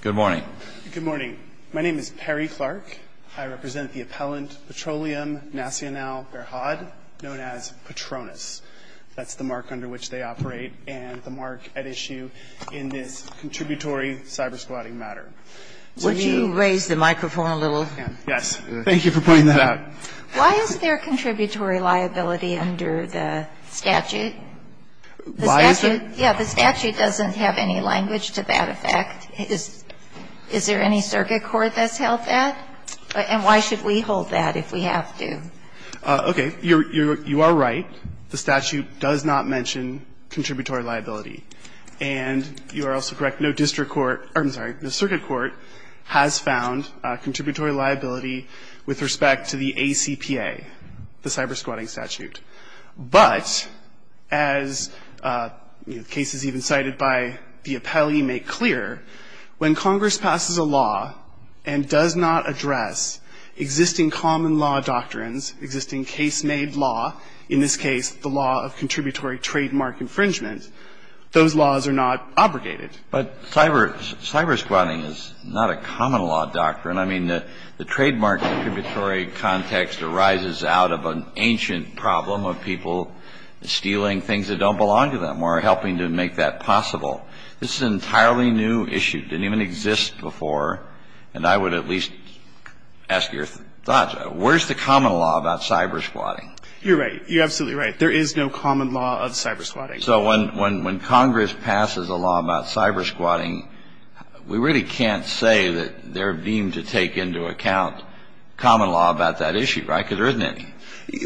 Good morning. Good morning. My name is Perry Clark. I represent the appellant Petroliam Nasional Berhad, known as Petronas. That's the mark under which they operate and the mark at issue in this contributory cybersquatting matter. Would you raise the microphone a little? Yes. Thank you for pointing that out. Why is there contributory liability under the statute? Why is there? Yeah, the statute doesn't have any language to that effect. Is there any circuit court that's held that? And why should we hold that if we have to? Okay. You are right. The statute does not mention contributory liability. And you are also correct. No district court or, I'm sorry, no circuit court has found contributory liability with respect to the ACPA, the cybersquatting statute. But as cases even cited by the appellee make clear, when Congress passes a law and does not address existing common law doctrines, existing case-made law, in this case, the law of contributory trademark infringement, those laws are not obligated. But cybersquatting is not a common law doctrine. I mean, the trademark contributory context arises out of an ancient problem of people stealing things that don't belong to them or helping to make that possible. This is an entirely new issue. It didn't even exist before. And I would at least ask your thoughts. Where's the common law about cybersquatting? You're right. You're absolutely right. There is no common law of cybersquatting. So when Congress passes a law about cybersquatting, we really can't say that they're deemed to take into account common law about that issue, right? Because there isn't any.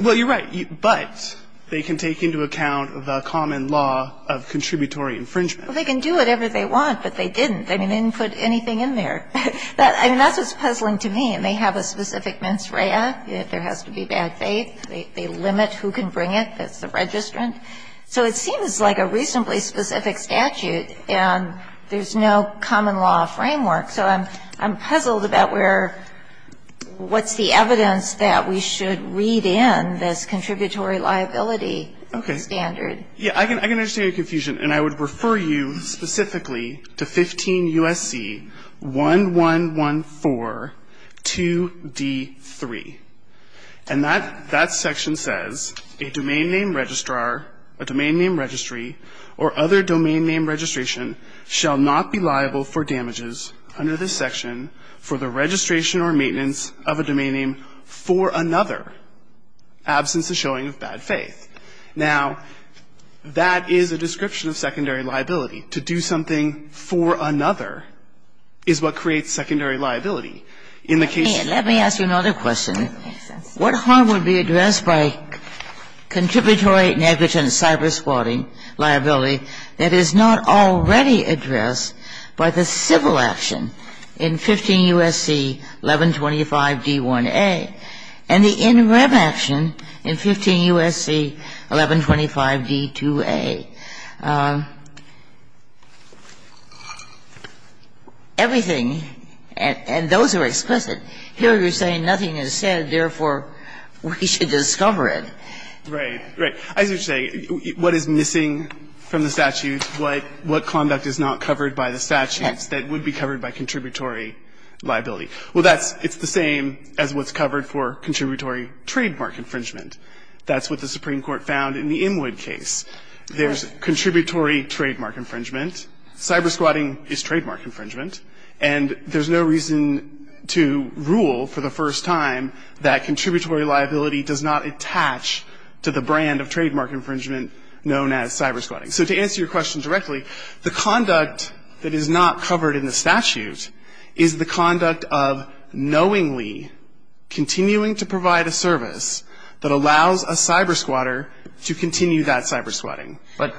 Well, you're right. But they can take into account the common law of contributory infringement. Well, they can do whatever they want, but they didn't. They didn't put anything in there. I mean, that's what's puzzling to me. And they have a specific mens rea. There has to be bad faith. They limit who can bring it. That's the registrant. So it seems like a reasonably specific statute. And there's no common law framework. So I'm puzzled about where what's the evidence that we should read in this contributory liability standard. Okay. Yeah, I can understand your confusion. And I would refer you specifically to 15 U.S.C. 11142D3. And that section says, A domain name registrar, a domain name registry, or other domain name registration shall not be liable for damages under this section for the registration or maintenance of a domain name for another, absence of showing of bad faith. Now, that is a description of secondary liability. To do something for another is what creates secondary liability. Let me ask you another question. What harm would be addressed by contributory negligent cyber spotting liability that is not already addressed by the civil action in 15 U.S.C. 1125D1A and the in rev action in 15 U.S.C. 1125D2A? Everything, and those are explicit. Here you're saying nothing is said, therefore, we should discover it. Right. Right. As you say, what is missing from the statute, what conduct is not covered by the statutes that would be covered by contributory liability? Well, that's the same as what's covered for contributory trademark infringement. That's what the Supreme Court found in the Inwood case. There's contributory trademark infringement. Cyber spotting is trademark infringement. And there's no reason to rule for the first time that contributory liability does not attach to the brand of trademark infringement known as cyber spotting. So to answer your question directly, the conduct that is not covered in the statute is the conduct of knowingly continuing to provide a service that allows a cyber spotter to continue that cyber spotting. But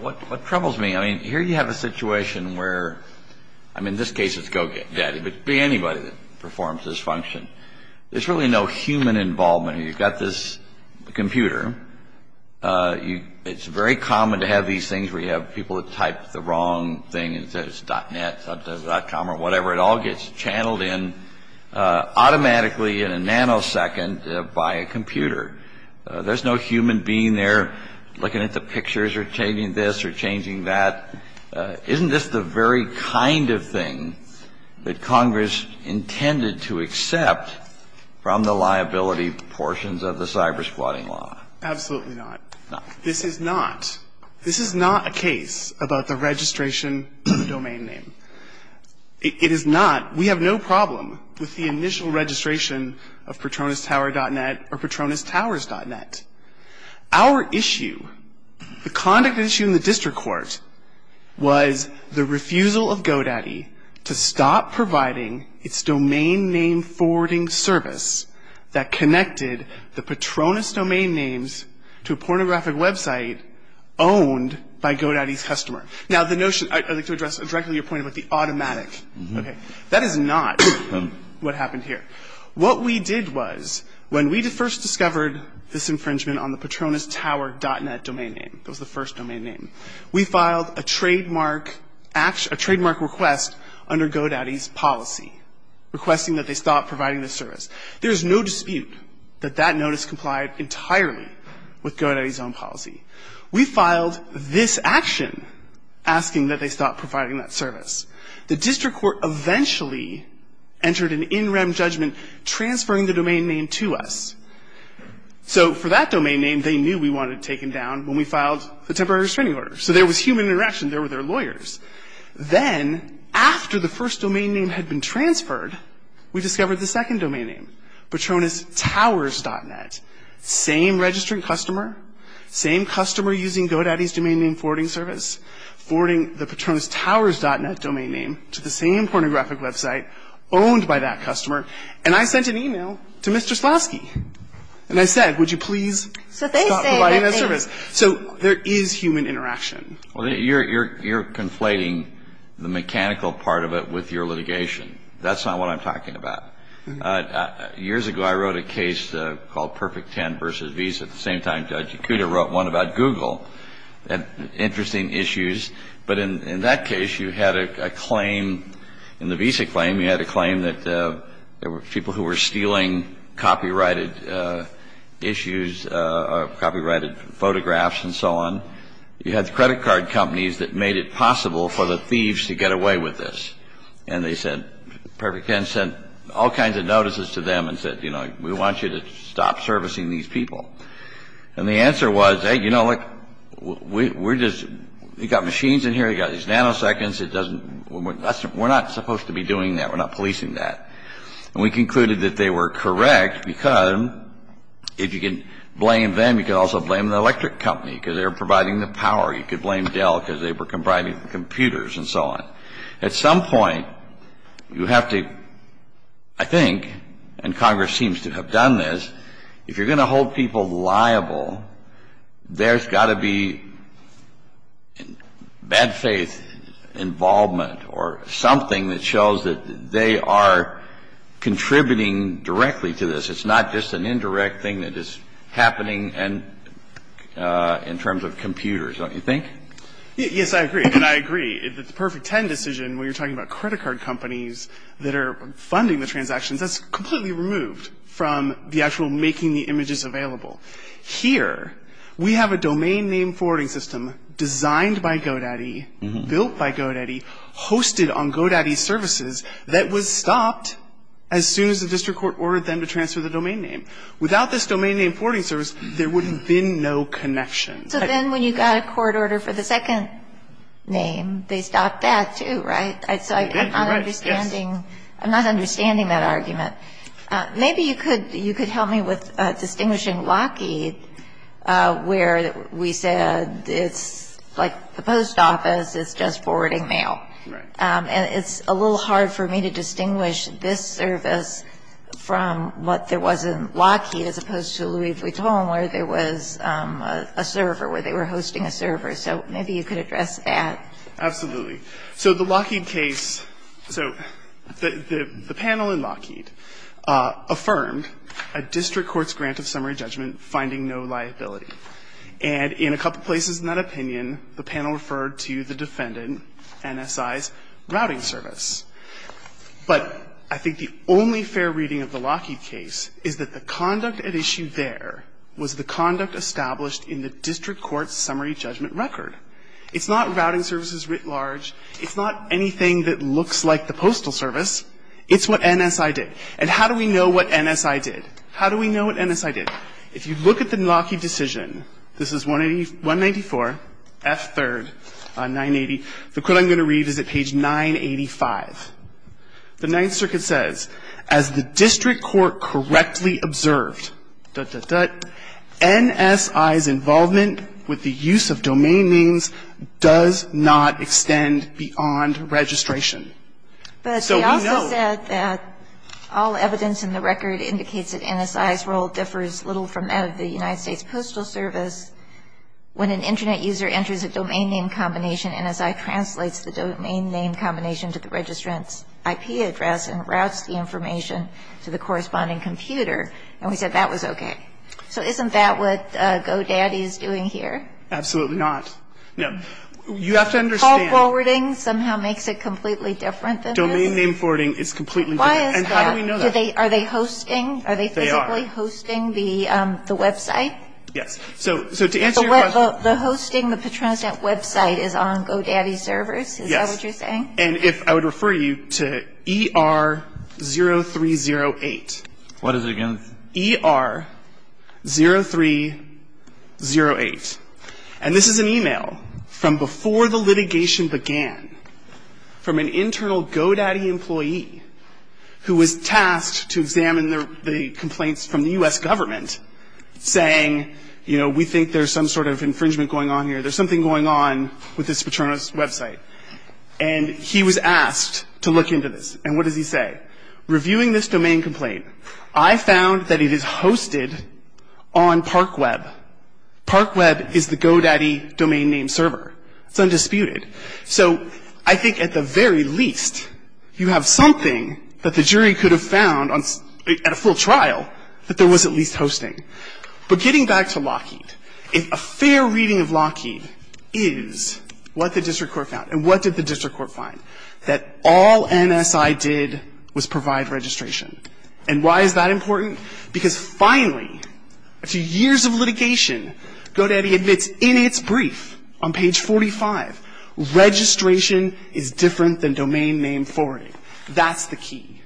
what troubles me, I mean, here you have a situation where, I mean, in this case it's go get daddy, but it could be anybody that performs this function. There's really no human involvement here. You've got this computer. It's very common to have these things where you have people that type the wrong thing and it says .net, .com or whatever. It all gets channeled in automatically in a nanosecond by a computer. There's no human being there looking at the pictures or changing this or changing that. Isn't this the very kind of thing that Congress intended to accept from the liability portions of the cyber spotting law? Absolutely not. This is not. This is not a case about the registration of a domain name. It is not. We have no problem with the initial registration of PatronusTower.net or PatronusTowers.net. Our issue, the conduct issue in the district court, was the refusal of GoDaddy to stop providing its domain name forwarding service that connected the Patronus domain names to a pornographic website owned by GoDaddy's customer. Now, the notion, I'd like to address directly your point about the automatic. Okay. That is not what happened here. What we did was when we first discovered this infringement on the PatronusTower.net domain name, that was the first domain name, we filed a trademark request under GoDaddy's policy requesting that they stop providing this service. There is no dispute that that notice complied entirely with GoDaddy's own policy. We filed this action asking that they stop providing that service. The district court eventually entered an in-rem judgment transferring the domain name to us. So for that domain name, they knew we wanted it taken down when we filed the temporary restraining order. So there was human interaction. There were their lawyers. Then, after the first domain name had been transferred, we discovered the second domain name, PatronusTowers.net. Same registrant customer, same customer using GoDaddy's domain name forwarding service, forwarding the PatronusTowers.net domain name to the same pornographic website owned by that customer. And I sent an e-mail to Mr. Slavsky, and I said, would you please stop providing that service. So there is human interaction. Well, you're conflating the mechanical part of it with your litigation. That's not what I'm talking about. Years ago, I wrote a case called Perfect 10 v. Visa at the same time Judge Yakuda wrote one about Google and interesting issues. But in that case, you had a claim, in the Visa claim, you had a claim that there were people who were stealing copyrighted issues or copyrighted photographs and so on. You had the credit card companies that made it possible for the thieves to get away with this. And they said, Perfect 10 sent all kinds of notices to them and said, you know, we want you to stop servicing these people. And the answer was, hey, you know, look, we're just you've got machines in here, you've got these nanoseconds. It doesn't we're not supposed to be doing that. We're not policing that. And we concluded that they were correct because if you can blame them, you can also blame the electric company because they were providing the power. You could blame Dell because they were providing computers and so on. At some point, you have to, I think, and Congress seems to have done this, if you're going to hold people liable, there's got to be bad faith involvement or something that shows that they are contributing directly to this. It's not just an indirect thing that is happening in terms of computers, don't you think? Yes, I agree. And I agree. The Perfect 10 decision, when you're talking about credit card companies that are funding the transactions, that's completely removed from the actual making the images available. Here, we have a domain name forwarding system designed by GoDaddy, built by GoDaddy, hosted on GoDaddy services that was stopped as soon as the district court ordered them to transfer the domain name. Without this domain name forwarding service, there would have been no connection. So then when you got a court order for the second name, they stopped that too, right? So I'm not understanding that argument. Maybe you could help me with distinguishing Lockheed, where we said it's like the post office, it's just forwarding mail. Right. And it's a little hard for me to distinguish this service from what there was in Lockheed as opposed to Louis Vuitton, where there was a server, where they were hosting a server. So maybe you could address that. Absolutely. So the Lockheed case, so the panel in Lockheed affirmed a district court's grant of summary judgment finding no liability. And in a couple places in that opinion, the panel referred to the defendant, NSI's routing service. But I think the only fair reading of the Lockheed case is that the conduct at issue there was the conduct established in the district court's summary judgment record. It's not routing services writ large. It's not anything that looks like the postal service. It's what NSI did. And how do we know what NSI did? How do we know what NSI did? If you look at the Lockheed decision, this is 194, F3rd, 980. The quote I'm going to read is at page 985. The Ninth Circuit says, as the district court correctly observed, NSI's involvement with the use of domain names does not extend beyond registration. But they also said that all evidence in the record indicates that NSI's role differs little from that of the United States Postal Service. When an Internet user enters a domain name combination, NSI translates the domain name combination to the registrant's IP address and routes the information to the corresponding computer. And we said that was okay. So isn't that what GoDaddy is doing here? Absolutely not. No. You have to understand. Call forwarding somehow makes it completely different than this? Domain name forwarding is completely different. Why is that? And how do we know that? Are they hosting? They are. Are they physically hosting the website? Yes. So to answer your question. The hosting of the Petronas Net website is on GoDaddy's servers? Yes. Is that what you're saying? And if I would refer you to ER0308. What is it again? ER0308. And this is an email from before the litigation began from an internal GoDaddy employee who was tasked to examine the complaints from the U.S. government saying, you know, we think there's some sort of infringement going on here. There's something going on with this Petronas website. And he was asked to look into this. And what does he say? Reviewing this domain complaint, I found that it is hosted on ParkWeb. ParkWeb is the GoDaddy domain name server. It's undisputed. So I think at the very least, you have something that the jury could have found at a full trial that there was at least hosting. But getting back to Lockheed, if a fair reading of Lockheed is what the district court found, and what did the district court find? That all NSI did was provide registration. And why is that important? Because finally, after years of litigation, GoDaddy admits in its brief on page 45, registration is different than domain name forwarding. That's the key.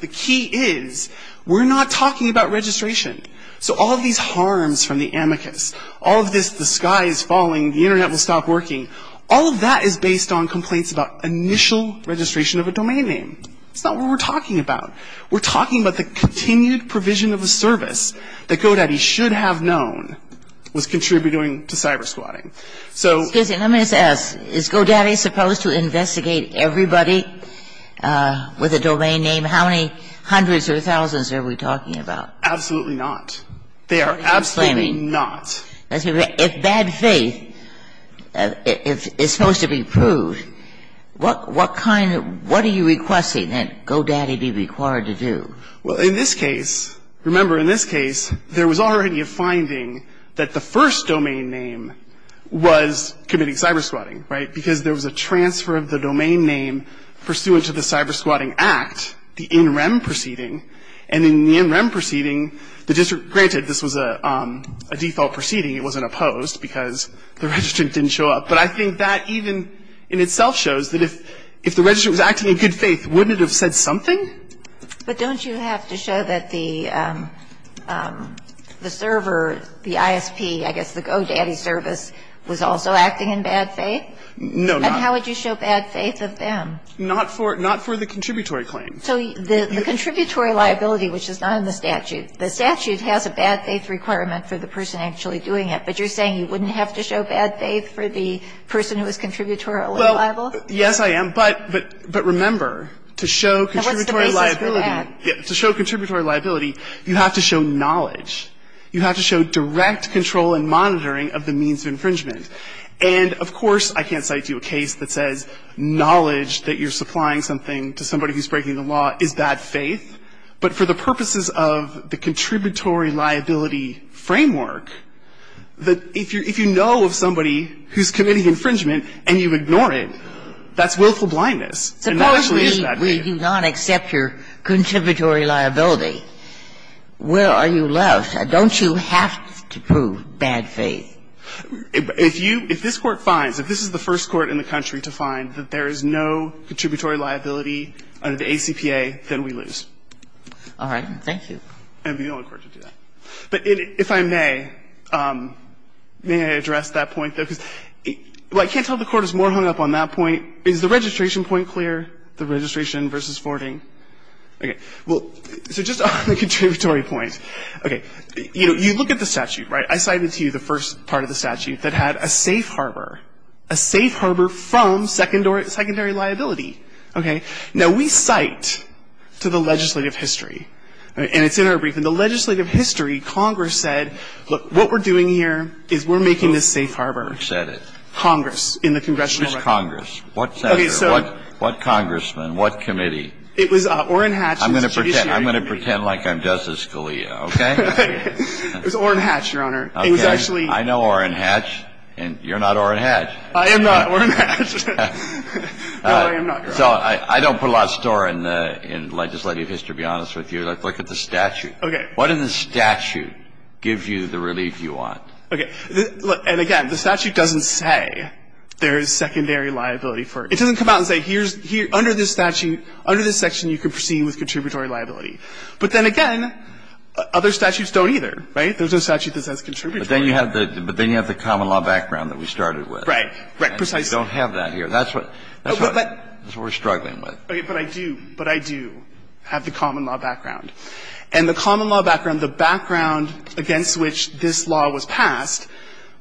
The key is we're not talking about registration. So all of these harms from the amicus, all of this, the sky is falling, the Internet will stop working, all of that is based on complaints about initial registration of a domain name. It's not what we're talking about. We're talking about the continued provision of a service that GoDaddy should have known was contributing to cybersquatting. So Excuse me, let me just ask. Is GoDaddy supposed to investigate everybody with a domain name? How many hundreds or thousands are we talking about? Absolutely not. They are absolutely not. If bad faith is supposed to be proved, what kind of – what are you requesting that GoDaddy be required to do? Well, in this case, remember, in this case, there was already a finding that the first domain name was committing cybersquatting, right? Because there was a transfer of the domain name pursuant to the Cybersquatting Act, the NREM proceeding. And in the NREM proceeding, the district – granted, this was a default proceeding. It wasn't opposed because the registrant didn't show up. But I think that even in itself shows that if the registrant was acting in good faith, wouldn't it have said something? But don't you have to show that the server, the ISP, I guess the GoDaddy service, was also acting in bad faith? No. And how would you show bad faith of them? Not for the contributory claim. So the contributory liability, which is not in the statute, the statute has a bad faith requirement for the person actually doing it, but you're saying you wouldn't have to show bad faith for the person who was contributorily liable? Well, yes, I am. But remember, to show contributory liability, you have to show knowledge. You have to show direct control and monitoring of the means of infringement. And, of course, I can't cite you a case that says knowledge that you're supplying something to somebody who's breaking the law is bad faith. But for the purposes of the contributory liability framework, if you know of somebody who's committing infringement and you ignore it, that's willful blindness. And that actually is bad faith. Suppose we do not accept your contributory liability. Where are you left? Don't you have to prove bad faith? If you – if this Court finds, if this is the first Court in the country to find that there is no contributory liability under the ACPA, then we lose. All right. Thank you. And be the only Court to do that. But if I may, may I address that point, though? Because I can't tell if the Court is more hung up on that point. Is the registration point clear, the registration versus forwarding? Okay. Well, so just on the contributory point, okay, you look at the statute, right? I cited to you the first part of the statute that had a safe harbor, a safe harbor from secondary liability, okay? Now, we cite to the legislative history, and it's in our brief, and the legislative history, Congress said, look, what we're doing here is we're making this safe harbor. Who said it? Congress, in the congressional record. Who's Congress? What senator? What congressman? What committee? It was Orrin Hatch. I'm going to pretend like I'm Justice Scalia, okay? It was Orrin Hatch, Your Honor. It was actually – Okay. I know Orrin Hatch, and you're not Orrin Hatch. I am not Orrin Hatch. No, I am not, Your Honor. So I don't put a lot of store in the legislative history, to be honest with you. Look at the statute. Okay. What in the statute gives you the relief you want? Okay. And again, the statute doesn't say there is secondary liability for – it doesn't come out and say here's – under this statute, under this section, you can proceed with contributory liability. But then again, other statutes don't either, right? There's no statute that says contributory. But then you have the common law background that we started with. Right. Right. Precisely. We don't have that here. That's what – that's what we're struggling with. But I do – but I do have the common law background. And the common law background, the background against which this law was passed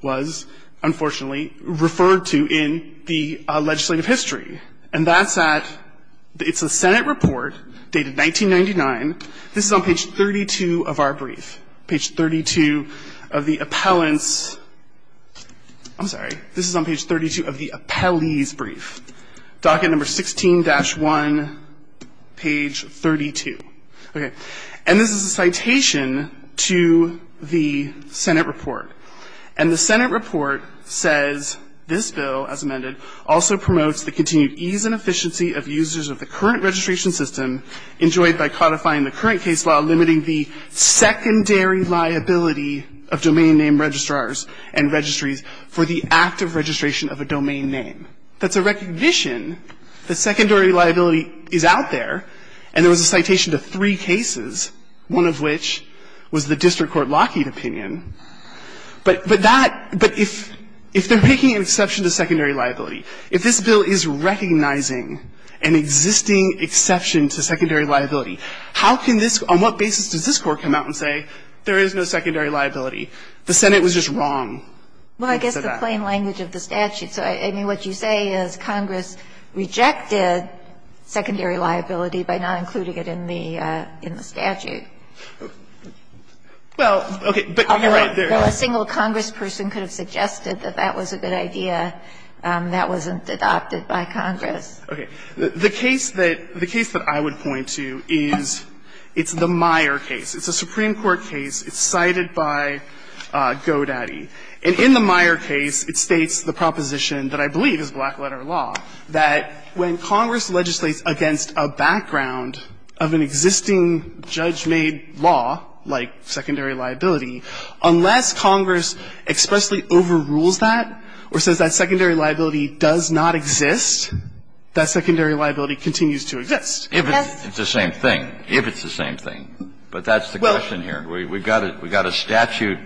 was, unfortunately, referred to in the legislative history. And that's at – it's a Senate report dated 1999. This is on page 32 of our brief, page 32 of the appellant's – I'm sorry. This is on page 32 of the appellee's brief, docket number 16-1, page 32. Okay. And this is a citation to the Senate report. And the Senate report says this bill, as amended, also promotes the continued ease and efficiency of users of the current registration system enjoyed by codifying the current case while limiting the secondary liability of domain name registrars and registries for the active registration of a domain name. That's a recognition that secondary liability is out there, and there was a citation to three cases, one of which was the district court Lockheed opinion. But that – but if – if they're making an exception to secondary liability, if this bill is recognizing an existing exception to secondary liability, how can this – on what basis does this Court come out and say there is no secondary liability? The Senate was just wrong. Well, I guess the plain language of the statute. So, I mean, what you say is Congress rejected secondary liability by not including it in the – in the statute. Well, okay. But you're right. There are others. A single congressperson could have suggested that that was a good idea. That wasn't adopted by Congress. Okay. The case that – the case that I would point to is, it's the Meyer case. It's a Supreme Court case. It's cited by Godaddy. And in the Meyer case, it states the proposition that I believe is black-letter law, that when Congress legislates against a background of an existing judge-made law, like secondary liability, unless Congress expressly overrules that or says that secondary liability does not exist, that secondary liability continues to exist. Yes. It's the same thing, if it's the same thing. But that's the question here. We've got a statute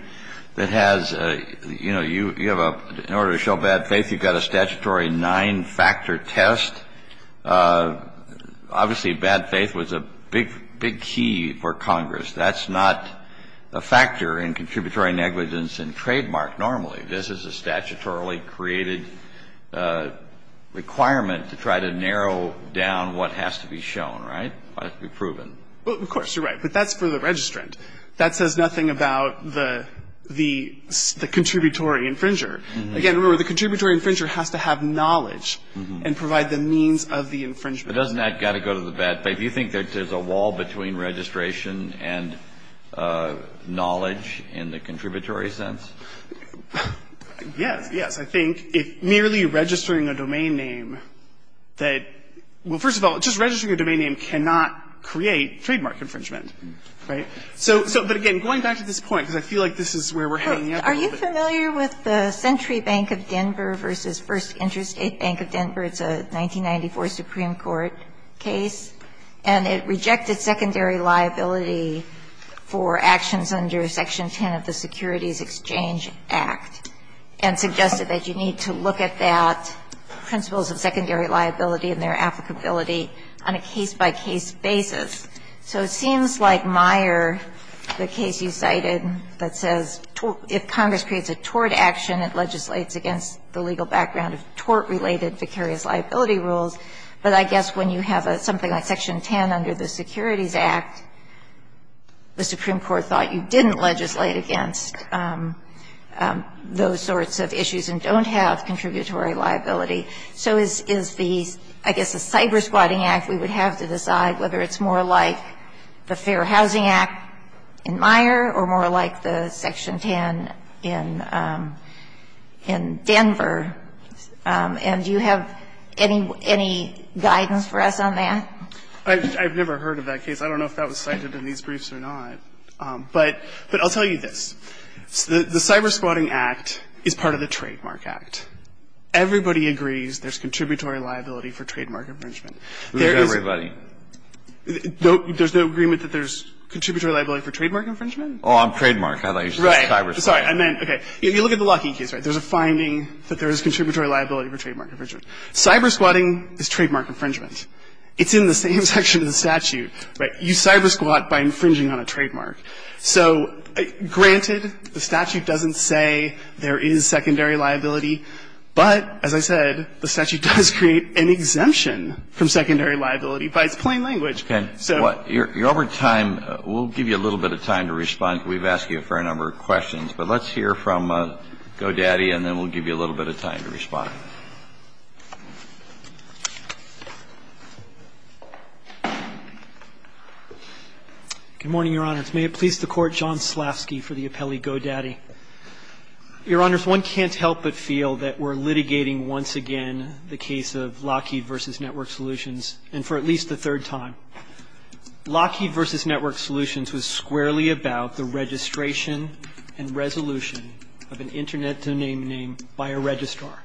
that has, you know, you have a – in order to show bad faith, you've got a statutory nine-factor test. Obviously, bad faith was a big, big key for Congress. That's not a factor in contributory negligence and trademark normally. This is a statutorily created requirement to try to narrow down what has to be shown, right, what has to be proven. Well, of course, you're right. But that's for the registrant. That says nothing about the – the contributory infringer. Again, remember, the contributory infringer has to have knowledge and provide the means of the infringement. But doesn't that got to go to the bad faith? You think that there's a wall between registration and knowledge in the contributory sense? Yes. Yes. I think if merely registering a domain name that – well, first of all, just registering a domain name cannot create trademark infringement, right? So – but again, going back to this point, because I feel like this is where we're hanging up a little bit. Are you familiar with the Century Bank of Denver v. First Interstate Bank of Denver? It's a 1994 Supreme Court case. And it rejected secondary liability for actions under Section 10 of the Securities Exchange Act and suggested that you need to look at that principles of secondary liability and their applicability on a case-by-case basis. So it seems like Meyer, the case you cited, that says if Congress creates a tort action, it legislates against the legal background of tort-related vicarious liability rules, but I guess when you have something like Section 10 under the Securities Act, the Supreme Court thought you didn't legislate against those sorts of issues and don't have contributory liability. So is the – I guess the Cyber-Squatting Act, we would have to decide whether it's more like the Fair Housing Act in Meyer or more like the Section 10 in Denver. And do you have any guidance for us on that? I've never heard of that case. I don't know if that was cited in these briefs or not. But I'll tell you this. The Cyber-Squatting Act is part of the Trademark Act. Everybody agrees there's contributory liability for trademark infringement. Who's everybody? There's no agreement that there's contributory liability for trademark infringement? Oh, I'm trademark. I thought you said Cyber-Squatting. Right. Sorry. I meant – okay. You look at the Lockheed case, right? There's a finding that there is contributory liability for trademark infringement. Cyber-Squatting is trademark infringement. It's in the same section of the statute, right? You Cyber-Squat by infringing on a trademark. So, granted, the statute doesn't say there is secondary liability. But, as I said, the statute does create an exemption from secondary liability by its plain language. Okay. You're over time. We'll give you a little bit of time to respond because we've asked you a fair number of questions. But let's hear from GoDaddy, and then we'll give you a little bit of time to respond. Good morning, Your Honor. May it please the Court, John Slavsky for the appellee GoDaddy. Your Honor, one can't help but feel that we're litigating once again the case of Lockheed v. Network Solutions, and for at least the third time. Lockheed v. Network Solutions was squarely about the registration and resolution of an internet name by a registrar.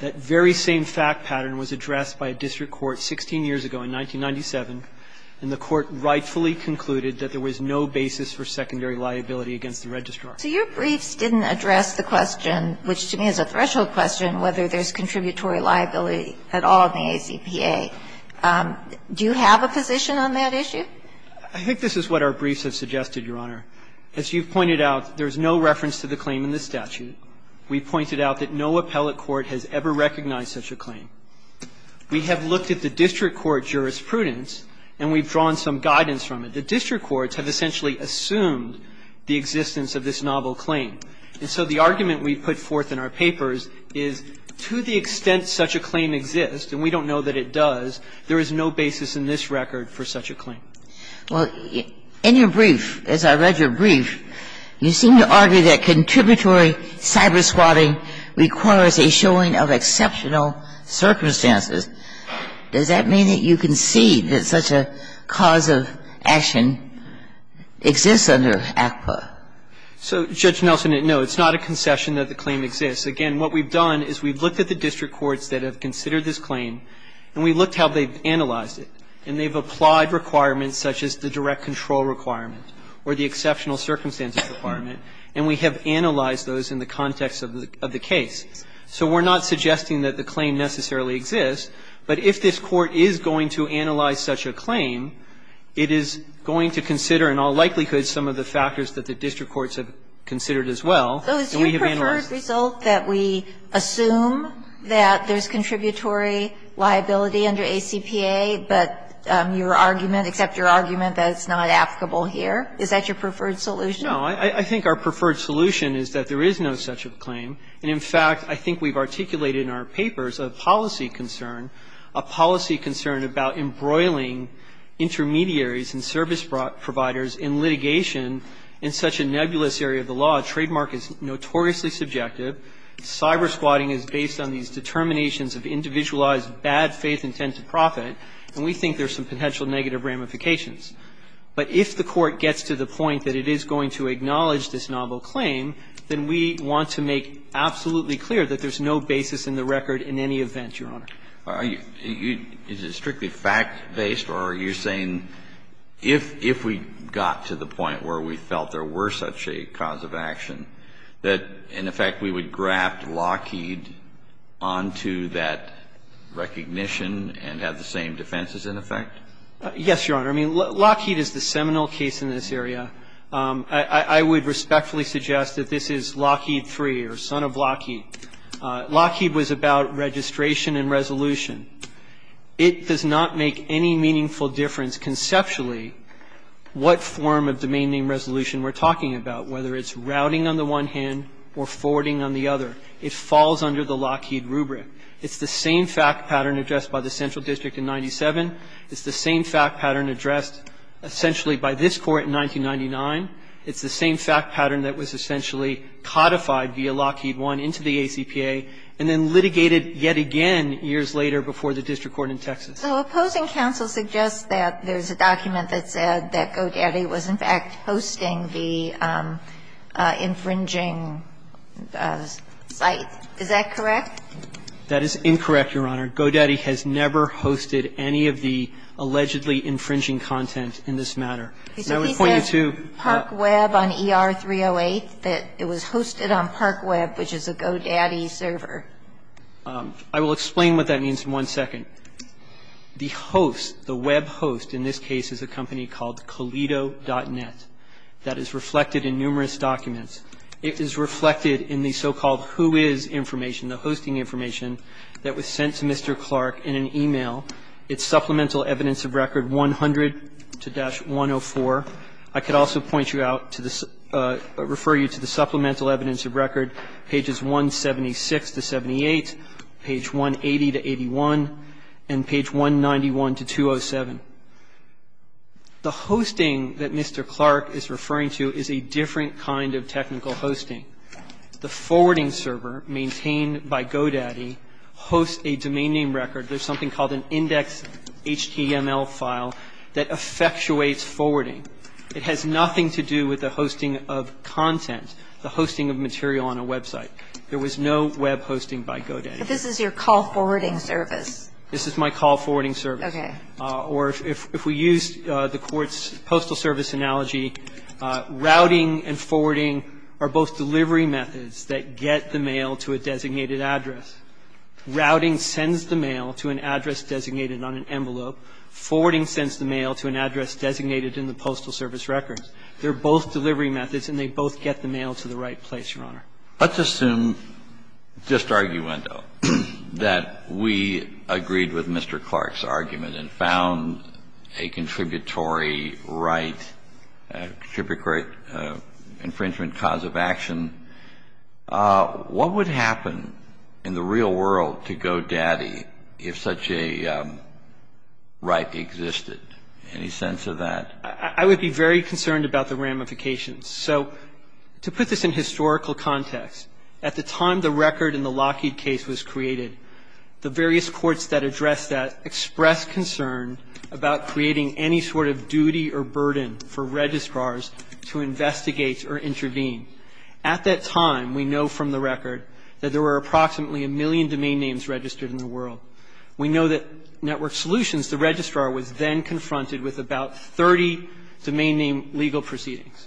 That very same fact pattern was addressed by a district court 16 years ago in 1997, and the Court rightfully concluded that there was no basis for secondary liability against the registrar. So your briefs didn't address the question, which to me is a threshold question, whether there's contributory liability at all in the ACPA. Do you have a position on that issue? I think this is what our briefs have suggested, Your Honor. As you've pointed out, there's no reference to the claim in the statute. We've pointed out that no appellate court has ever recognized such a claim. We have looked at the district court jurisprudence, and we've drawn some guidance from it. The district courts have essentially assumed the existence of this novel claim. And so the argument we put forth in our papers is to the extent such a claim exists, and we don't know that it does, there is no basis in this record for such a claim. Well, in your brief, as I read your brief, you seem to argue that contributory cyber-squatting requires a showing of exceptional circumstances. Does that mean that you concede that such a cause of action exists under ACPA? So, Judge Nelson, no. It's not a concession that the claim exists. Again, what we've done is we've looked at the district courts that have considered this claim, and we've looked at how they've analyzed it. And they've applied requirements such as the direct control requirement or the exceptional circumstances requirement, and we have analyzed those in the context of the case. So we're not suggesting that the claim necessarily exists, but if this Court is going to analyze such a claim, it is going to consider in all likelihood some of the factors that the district courts have considered as well. And we have analyzed it. So it's your preferred result that we assume that there's contributory liability under ACPA, but your argument, except your argument that it's not applicable here, is that your preferred solution? No. I think our preferred solution is that there is no such a claim. And, in fact, I think we've articulated in our papers a policy concern, a policy concern about embroiling intermediaries and service providers in litigation in such a nebulous area of the law. Trademark is notoriously subjective. Cyber-squatting is based on these determinations of individualized bad faith intent to profit, and we think there's some potential negative ramifications. But if the Court gets to the point that it is going to acknowledge this novel claim, then we want to make absolutely clear that there's no basis in the record in any event, Your Honor. Is it strictly fact-based, or are you saying if we got to the point where we felt there were such a cause of action, that, in effect, we would graft Lockheed onto that recognition and have the same defenses in effect? Yes, Your Honor. I mean, Lockheed is the seminal case in this area. I would respectfully suggest that this is Lockheed III or son of Lockheed. Lockheed was about registration and resolution. It does not make any meaningful difference conceptually what form of domain name resolution we're talking about, whether it's routing on the one hand or forwarding on the other. It falls under the Lockheed rubric. It's the same fact pattern addressed by the central district in 97. It's the same fact pattern addressed essentially by this Court in 1999. It's the same fact pattern that was essentially codified via Lockheed I into the ACPA and then litigated yet again years later before the district court in Texas. So opposing counsel suggests that there's a document that said that GoDaddy was, in fact, hosting the infringing site. Is that correct? That is incorrect, Your Honor. GoDaddy has never hosted any of the allegedly infringing content in this matter. And I would point you to the – He said he said ParkWeb on ER-308, that it was hosted on ParkWeb, which is a GoDaddy server. I will explain what that means in one second. The host, the web host in this case is a company called Koledo.net that is reflected in numerous documents. It is reflected in the so-called whois information, the hosting information that was sent to Mr. Clark in an e-mail. It's Supplemental Evidence of Record 100-104. I could also point you out to the – refer you to the Supplemental Evidence of Record pages 176 to 78, page 180 to 81, and page 191 to 207. The hosting that Mr. Clark is referring to is a different kind of technical hosting. The forwarding server maintained by GoDaddy hosts a domain name record. There's something called an index HTML file that effectuates forwarding. It has nothing to do with the hosting of content, the hosting of material on a website. There was no web hosting by GoDaddy. But this is your call forwarding service. This is my call forwarding service. Okay. Or if we used the court's postal service analogy, routing and forwarding are both delivery methods that get the mail to a designated address. Routing sends the mail to an address designated on an envelope. Forwarding sends the mail to an address designated in the postal service records. They're both delivery methods, and they both get the mail to the right place, Your Honor. Let's assume, just arguendo, that we agreed with Mr. Clark's argument and found a contributory right, a contributory infringement cause of action. What would happen in the real world to GoDaddy if such a right existed? Any sense of that? I would be very concerned about the ramifications. So to put this in historical context, at the time the record in the Lockheed case was created, the various courts that addressed that expressed concern about creating any sort of duty or burden for registrars to investigate or intervene. At that time, we know from the record that there were approximately a million domain names registered in the world. We know that Network Solutions, the registrar, was then confronted with about 30 domain name legal proceedings.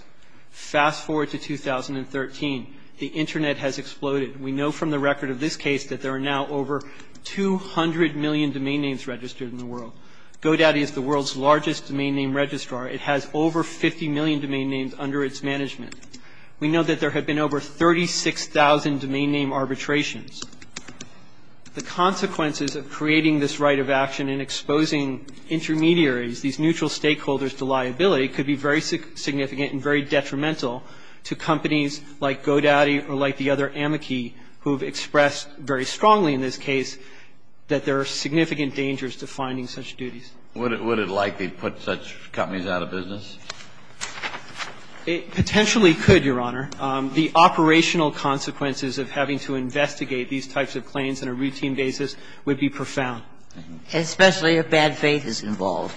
Fast forward to 2013. The Internet has exploded. We know from the record of this case that there are now over 200 million domain names registered in the world. GoDaddy is the world's largest domain name registrar. It has over 50 million domain names under its management. We know that there have been over 36,000 domain name arbitrations. The consequences of creating this right of action and exposing intermediaries, these neutral stakeholders, to liability could be very significant and very detrimental to companies like GoDaddy or like the other amici who have expressed very strongly in this case that there are significant dangers to finding such duties. Kennedy, would it likely put such companies out of business? Potentially could, Your Honor. The operational consequences of having to investigate these types of claims on a routine basis would be profound. Especially if bad faith is involved,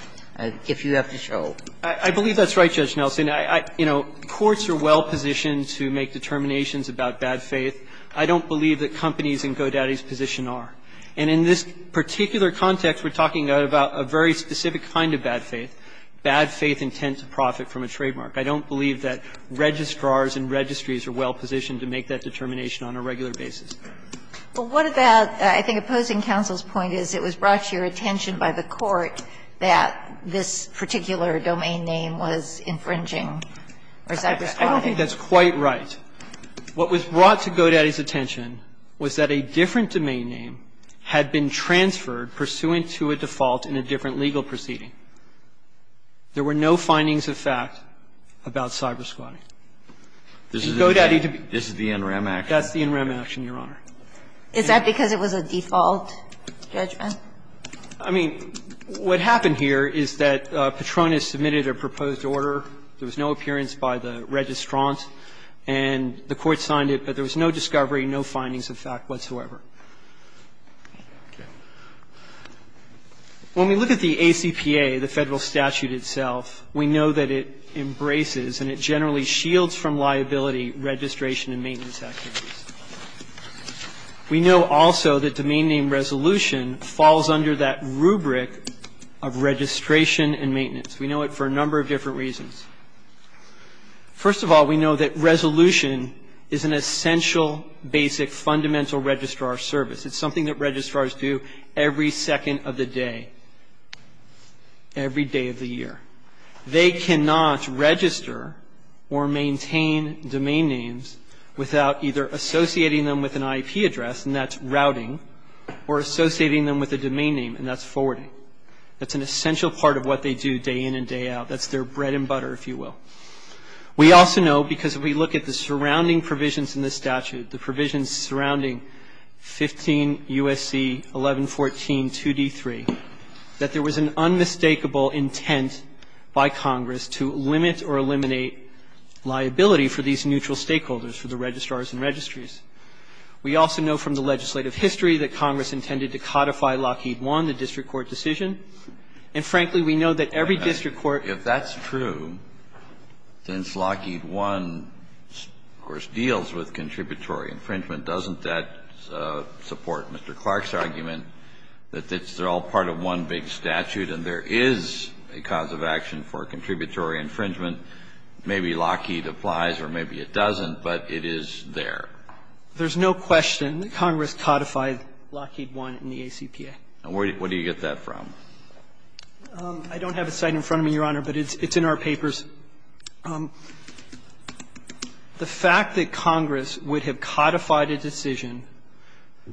if you have to show it. I believe that's right, Judge Nelson. You know, courts are well positioned to make determinations about bad faith. I don't believe that companies in GoDaddy's position are. And in this particular context, we're talking about a very specific kind of bad faith, bad faith intent to profit from a trademark. I don't believe that registrars and registries are well positioned to make that determination on a regular basis. Well, what about, I think opposing counsel's point is it was brought to your attention by the court that this particular domain name was infringing or cybersquatting. I don't think that's quite right. What was brought to GoDaddy's attention was that a different domain name had been transferred pursuant to a default in a different legal proceeding. There were no findings of fact about cybersquatting. This is the NREM action. That's the NREM action, Your Honor. Is that because it was a default judgment? I mean, what happened here is that Petronas submitted a proposed order. There was no appearance by the registrant, and the court signed it. But there was no discovery, no findings of fact whatsoever. When we look at the ACPA, the Federal statute itself, we know that it embraces and it generally shields from liability registration and maintenance activities. We know also that domain name resolution falls under that rubric of registration and maintenance. We know it for a number of different reasons. First of all, we know that resolution is an essential, basic, fundamental registrar service. It's something that registrars do every second of the day, every day of the year. They cannot register or maintain domain names without either associating them with an IP address, and that's routing, or associating them with a domain name, and that's forwarding. That's an essential part of what they do day in and day out. That's their bread and butter, if you will. We also know, because we look at the surrounding provisions in this statute, the provisions surrounding 15 U.S.C. 1114 2d3, that there was an unmistakable intent by Congress to limit or eliminate liability for these neutral stakeholders, for the registrars and registries. We also know from the legislative history that Congress intended to codify Lockheed One, the district court decision. And frankly, we know that every district court can't do that. Kennedy, if that's true, since Lockheed One, of course, deals with contributory infringement, doesn't that support Mr. Clark's argument that they're all part of one big statute and there is a cause of action for contributory infringement? Maybe Lockheed applies or maybe it doesn't, but it is there. There's no question that Congress codified Lockheed One in the ACPA. And where do you get that from? I don't have a site in front of me, Your Honor, but it's in our papers. The fact that Congress would have codified a decision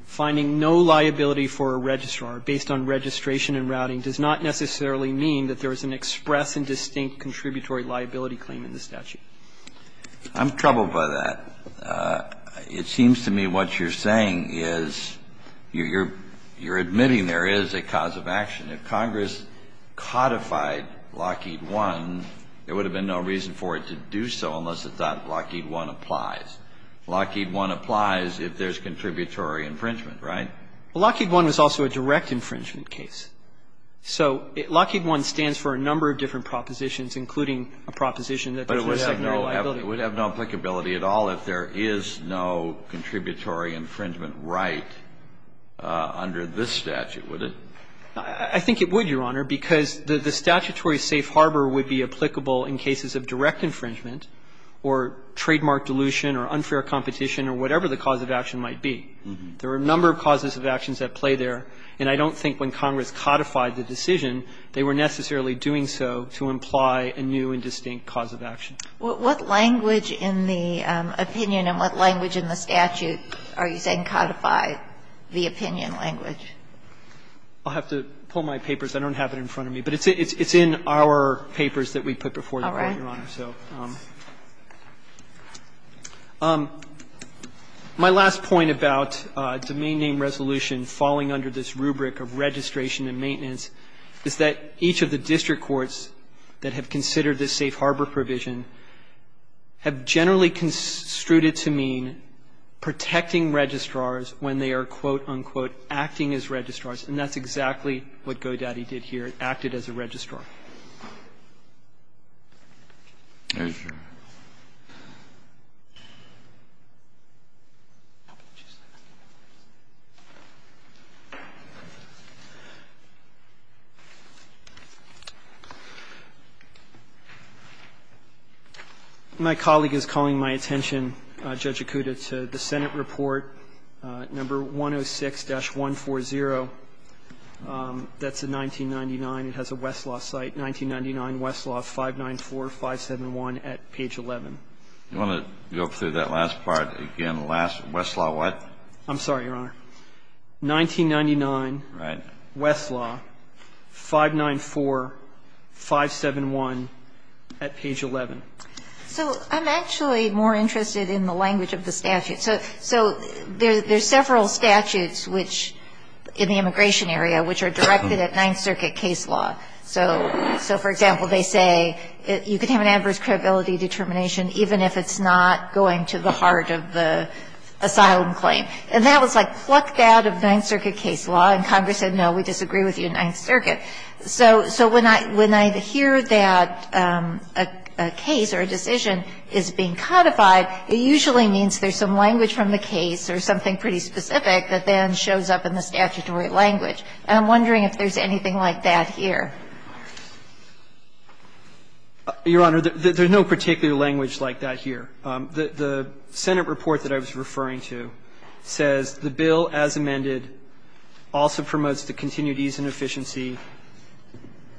finding no liability for a registrar based on registration and routing does not necessarily mean that there is an express and distinct contributory liability claim in the statute. Kennedy, I'm troubled by that. It seems to me what you're saying is you're admitting there is a cause of action. If Congress codified Lockheed One, there would have been no reason for it to do so unless it thought Lockheed One applies. Lockheed One applies if there's contributory infringement, right? Lockheed One is also a direct infringement case. So Lockheed One stands for a number of different propositions, including a proposition that there's no secondary liability. But it would have no applicability at all if there is no contributory infringement right under this statute, would it? I think it would, Your Honor, because the statutory safe harbor would be applicable in cases of direct infringement or trademark dilution or unfair competition or whatever the cause of action might be. There are a number of causes of actions at play there, and I don't think when Congress codified the decision, they were necessarily doing so to imply a new and distinct cause of action. What language in the opinion and what language in the statute are you saying codified the opinion language? I'll have to pull my papers. I don't have it in front of me. My last point about domain name resolution falling under this rubric of registration and maintenance is that each of the district courts that have considered this safe harbor provision have generally construed it to mean protecting registrars when they are, quote, unquote, acting as registrars, and that's exactly what GoDaddy did here. It acted as a registrar. My colleague is calling my attention, Judge Acuda, to the Senate report number 106-140, that's in 1999. It has a Westlaw section, and it states that, quote, So I'm actually more interested in the language of the statute. So there's several statutes which, in the immigration area, which are directed at Ninth Circuit case law. So, for example, they say you can have an adverse credibility determination even if it's not going to the heart of the asylum claim. And that was, like, plucked out of Ninth Circuit case law, and Congress said, no, we disagree with you in Ninth Circuit. So when I hear that a case or a decision is being codified, it usually means there's some language from the case or something pretty specific that then shows up in the statutory language, and I'm wondering if there's anything like that here. Gershengorn Your Honor, there's no particular language like that here. The Senate report that I was referring to says the bill as amended also promotes the continued ease and efficiency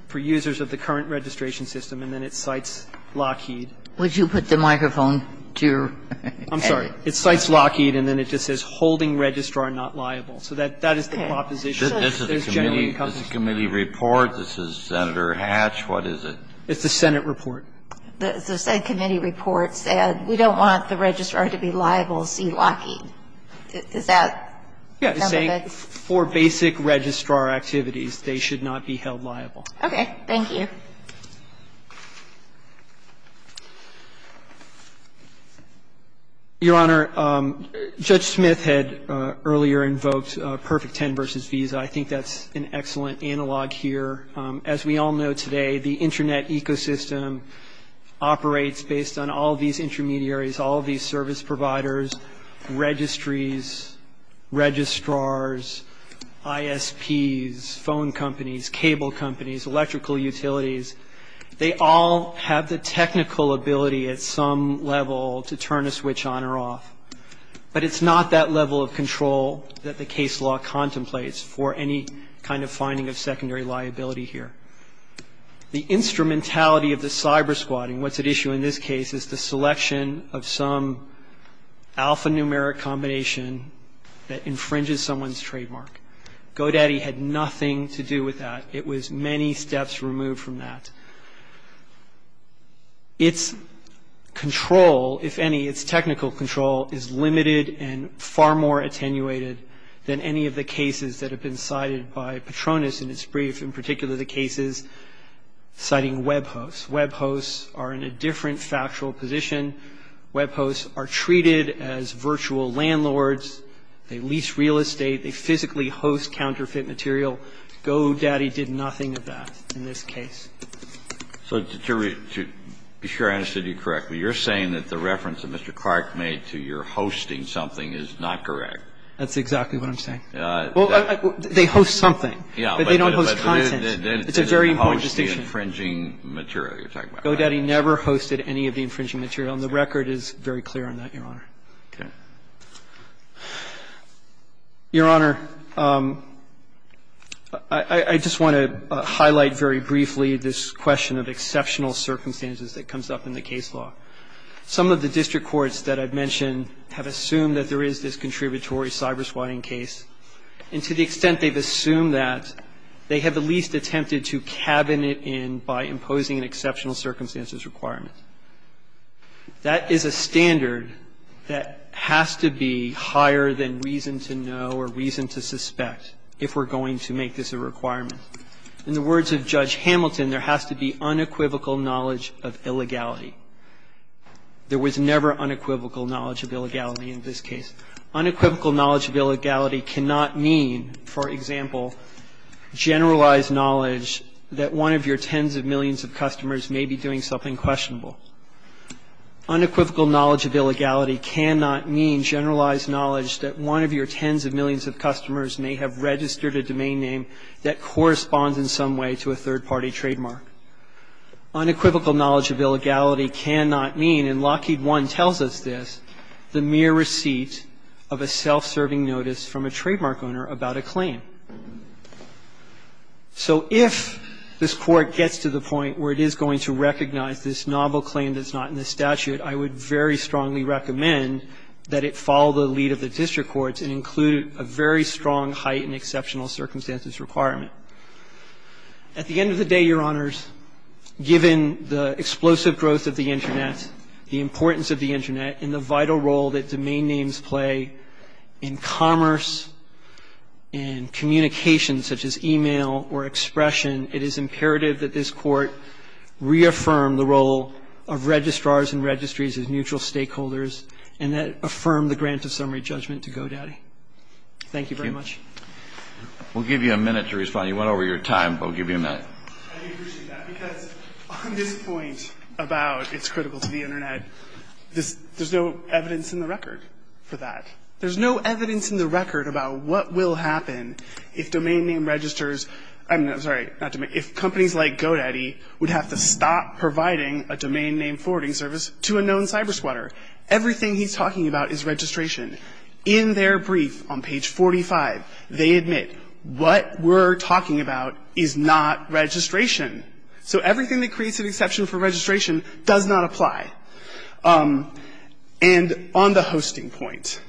for users of the current registration system, and then it cites Lockheed. Ginsburg Would you put the microphone to your head? Gershengorn I'm sorry. It cites Lockheed, and then it just says, holding registrar not liable. So that is the proposition. Kennedy This is the committee report. This is Senator Hatch. What is it? Gershengorn It's the Senate report. Ginsburg The Senate committee report said we don't want the registrar to be liable to see Lockheed. Does that sound like it's? Gershengorn Yes. It's saying for basic registrar activities, they should not be held liable. Ginsburg Okay. Thank you. Gershengorn Your Honor, Judge Smith had earlier invoked Perfect 10 versus Visa. I think that's an excellent analog here. As we all know today, the internet ecosystem operates based on all these intermediaries, all of these service providers, registries, registrars, ISPs, phone companies, cable companies, electrical utilities. They all have the technical ability at some level to turn a switch on or off. But it's not that level of control that the case law contemplates for any kind of finding of secondary liability here. The instrumentality of the cyber squatting, what's at issue in this case, is the selection of some alphanumeric combination that infringes someone's trademark. GoDaddy had nothing to do with that. It was many steps removed from that. It's control, if any, it's technical control, is limited and far more attenuated than any of the cases that have been cited by Petronas in his brief, in particular the cases citing web hosts. Web hosts are in a different factual position. Web hosts are treated as virtual landlords. They lease real estate. They physically host counterfeit material. GoDaddy did nothing of that in this case. So to be sure I understood you correctly, you're saying that the reference that Mr. Clark made to your hosting something is not correct? That's exactly what I'm saying. Well, they host something. Yeah. But they don't host content. It's a very important distinction. They didn't host the infringing material you're talking about. GoDaddy never hosted any of the infringing material. And the record is very clear on that, Your Honor. Okay. Your Honor, I just want to highlight very briefly this question of whether exceptional circumstances that comes up in the case law. Some of the district courts that I've mentioned have assumed that there is this contributory cyber swatting case, and to the extent they've assumed that, they have at least attempted to cabin it in by imposing an exceptional circumstances requirement. That is a standard that has to be higher than reason to know or reason to suspect if we're going to make this a requirement. In the words of Judge Hamilton, there has to be unequivocal knowledge of illegality. There was never unequivocal knowledge of illegality in this case. Unequivocal knowledge of illegality cannot mean, for example, generalized knowledge that one of your tens of millions of customers may be doing something questionable. Unequivocal knowledge of illegality cannot mean generalized knowledge that one of your tens of millions of customers may have registered a domain name that corresponds in some way to a third party trademark. Unequivocal knowledge of illegality cannot mean, and Lockheed One tells us this, the mere receipt of a self-serving notice from a trademark owner about a claim. So if this court gets to the point where it is going to recognize this novel claim that's not in the statute, I would very strongly recommend that it follow the lead of the district courts and include a very strong height and exceptional circumstances requirement. At the end of the day, Your Honors, given the explosive growth of the Internet, the importance of the Internet, and the vital role that domain names play in commerce and communication such as e-mail or expression, it is imperative that this Court reaffirm the role of registrars and registries as neutral stakeholders and that it reaffirm the grant of summary judgment to GoDaddy. Thank you very much. We'll give you a minute to respond. You went over your time, but we'll give you a minute. I do appreciate that because on this point about it's critical to the Internet, there's no evidence in the record for that. There's no evidence in the record about what will happen if domain name registers, I'm sorry, if companies like GoDaddy would have to stop providing a domain name forwarding service to a known cyber squatter. Everything he's talking about is registration. In their brief on page 45, they admit what we're talking about is not registration. So everything that creates an exception for registration does not apply. And on the hosting point,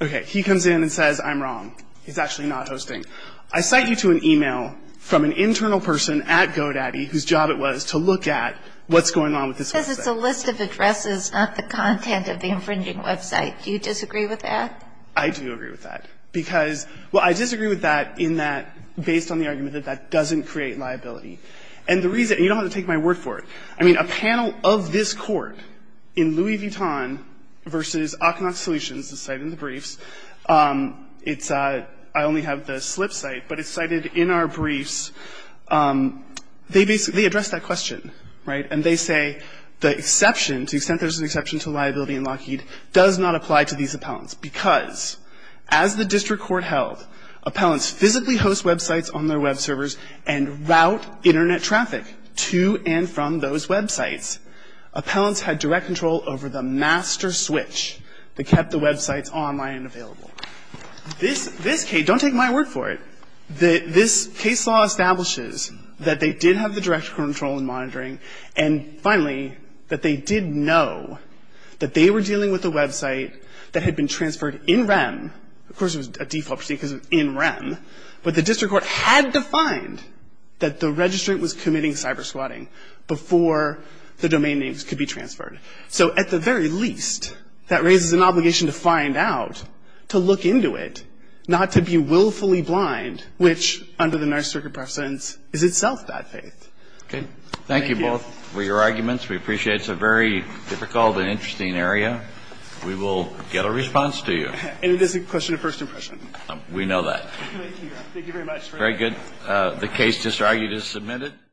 okay, he comes in and says, I'm wrong. He's actually not hosting. I cite you to an e-mail from an internal person at GoDaddy, whose job it was to look at what's going on with this website. He says it's a list of addresses, not the content of the infringing website. Do you disagree with that? I do agree with that. Because, well, I disagree with that in that, based on the argument that that doesn't create liability. And the reason, you don't have to take my word for it. I mean, a panel of this court in Louis Vuitton versus Akhnok Solutions, the site in the briefs, it's, I only have the slip site, but it's cited in our briefs, they basically address that question, right? And they say the exception, to the extent there's an exception to liability in Lockheed, does not apply to these appellants because, as the district court held, appellants physically host websites on their web servers and route Internet traffic to and from those websites. Appellants had direct control over the master switch that kept the websites online and available. This case, don't take my word for it, this case law establishes that they did have the direct control in monitoring. And finally, that they did know that they were dealing with a website that had been transferred in REM. Of course, it was a default procedure because it was in REM. But the district court had defined that the registrant was committing cyber swatting before the domain names could be transferred. So at the very least, that raises an obligation to find out, to look into it, not to be willfully blind, which under the Narc circuit precedence is itself bad faith. Okay. Thank you both for your arguments. We appreciate it. It's a very difficult and interesting area. We will get a response to you. And it is a question of first impression. We know that. Thank you very much. Very good. The case just argued is submitted.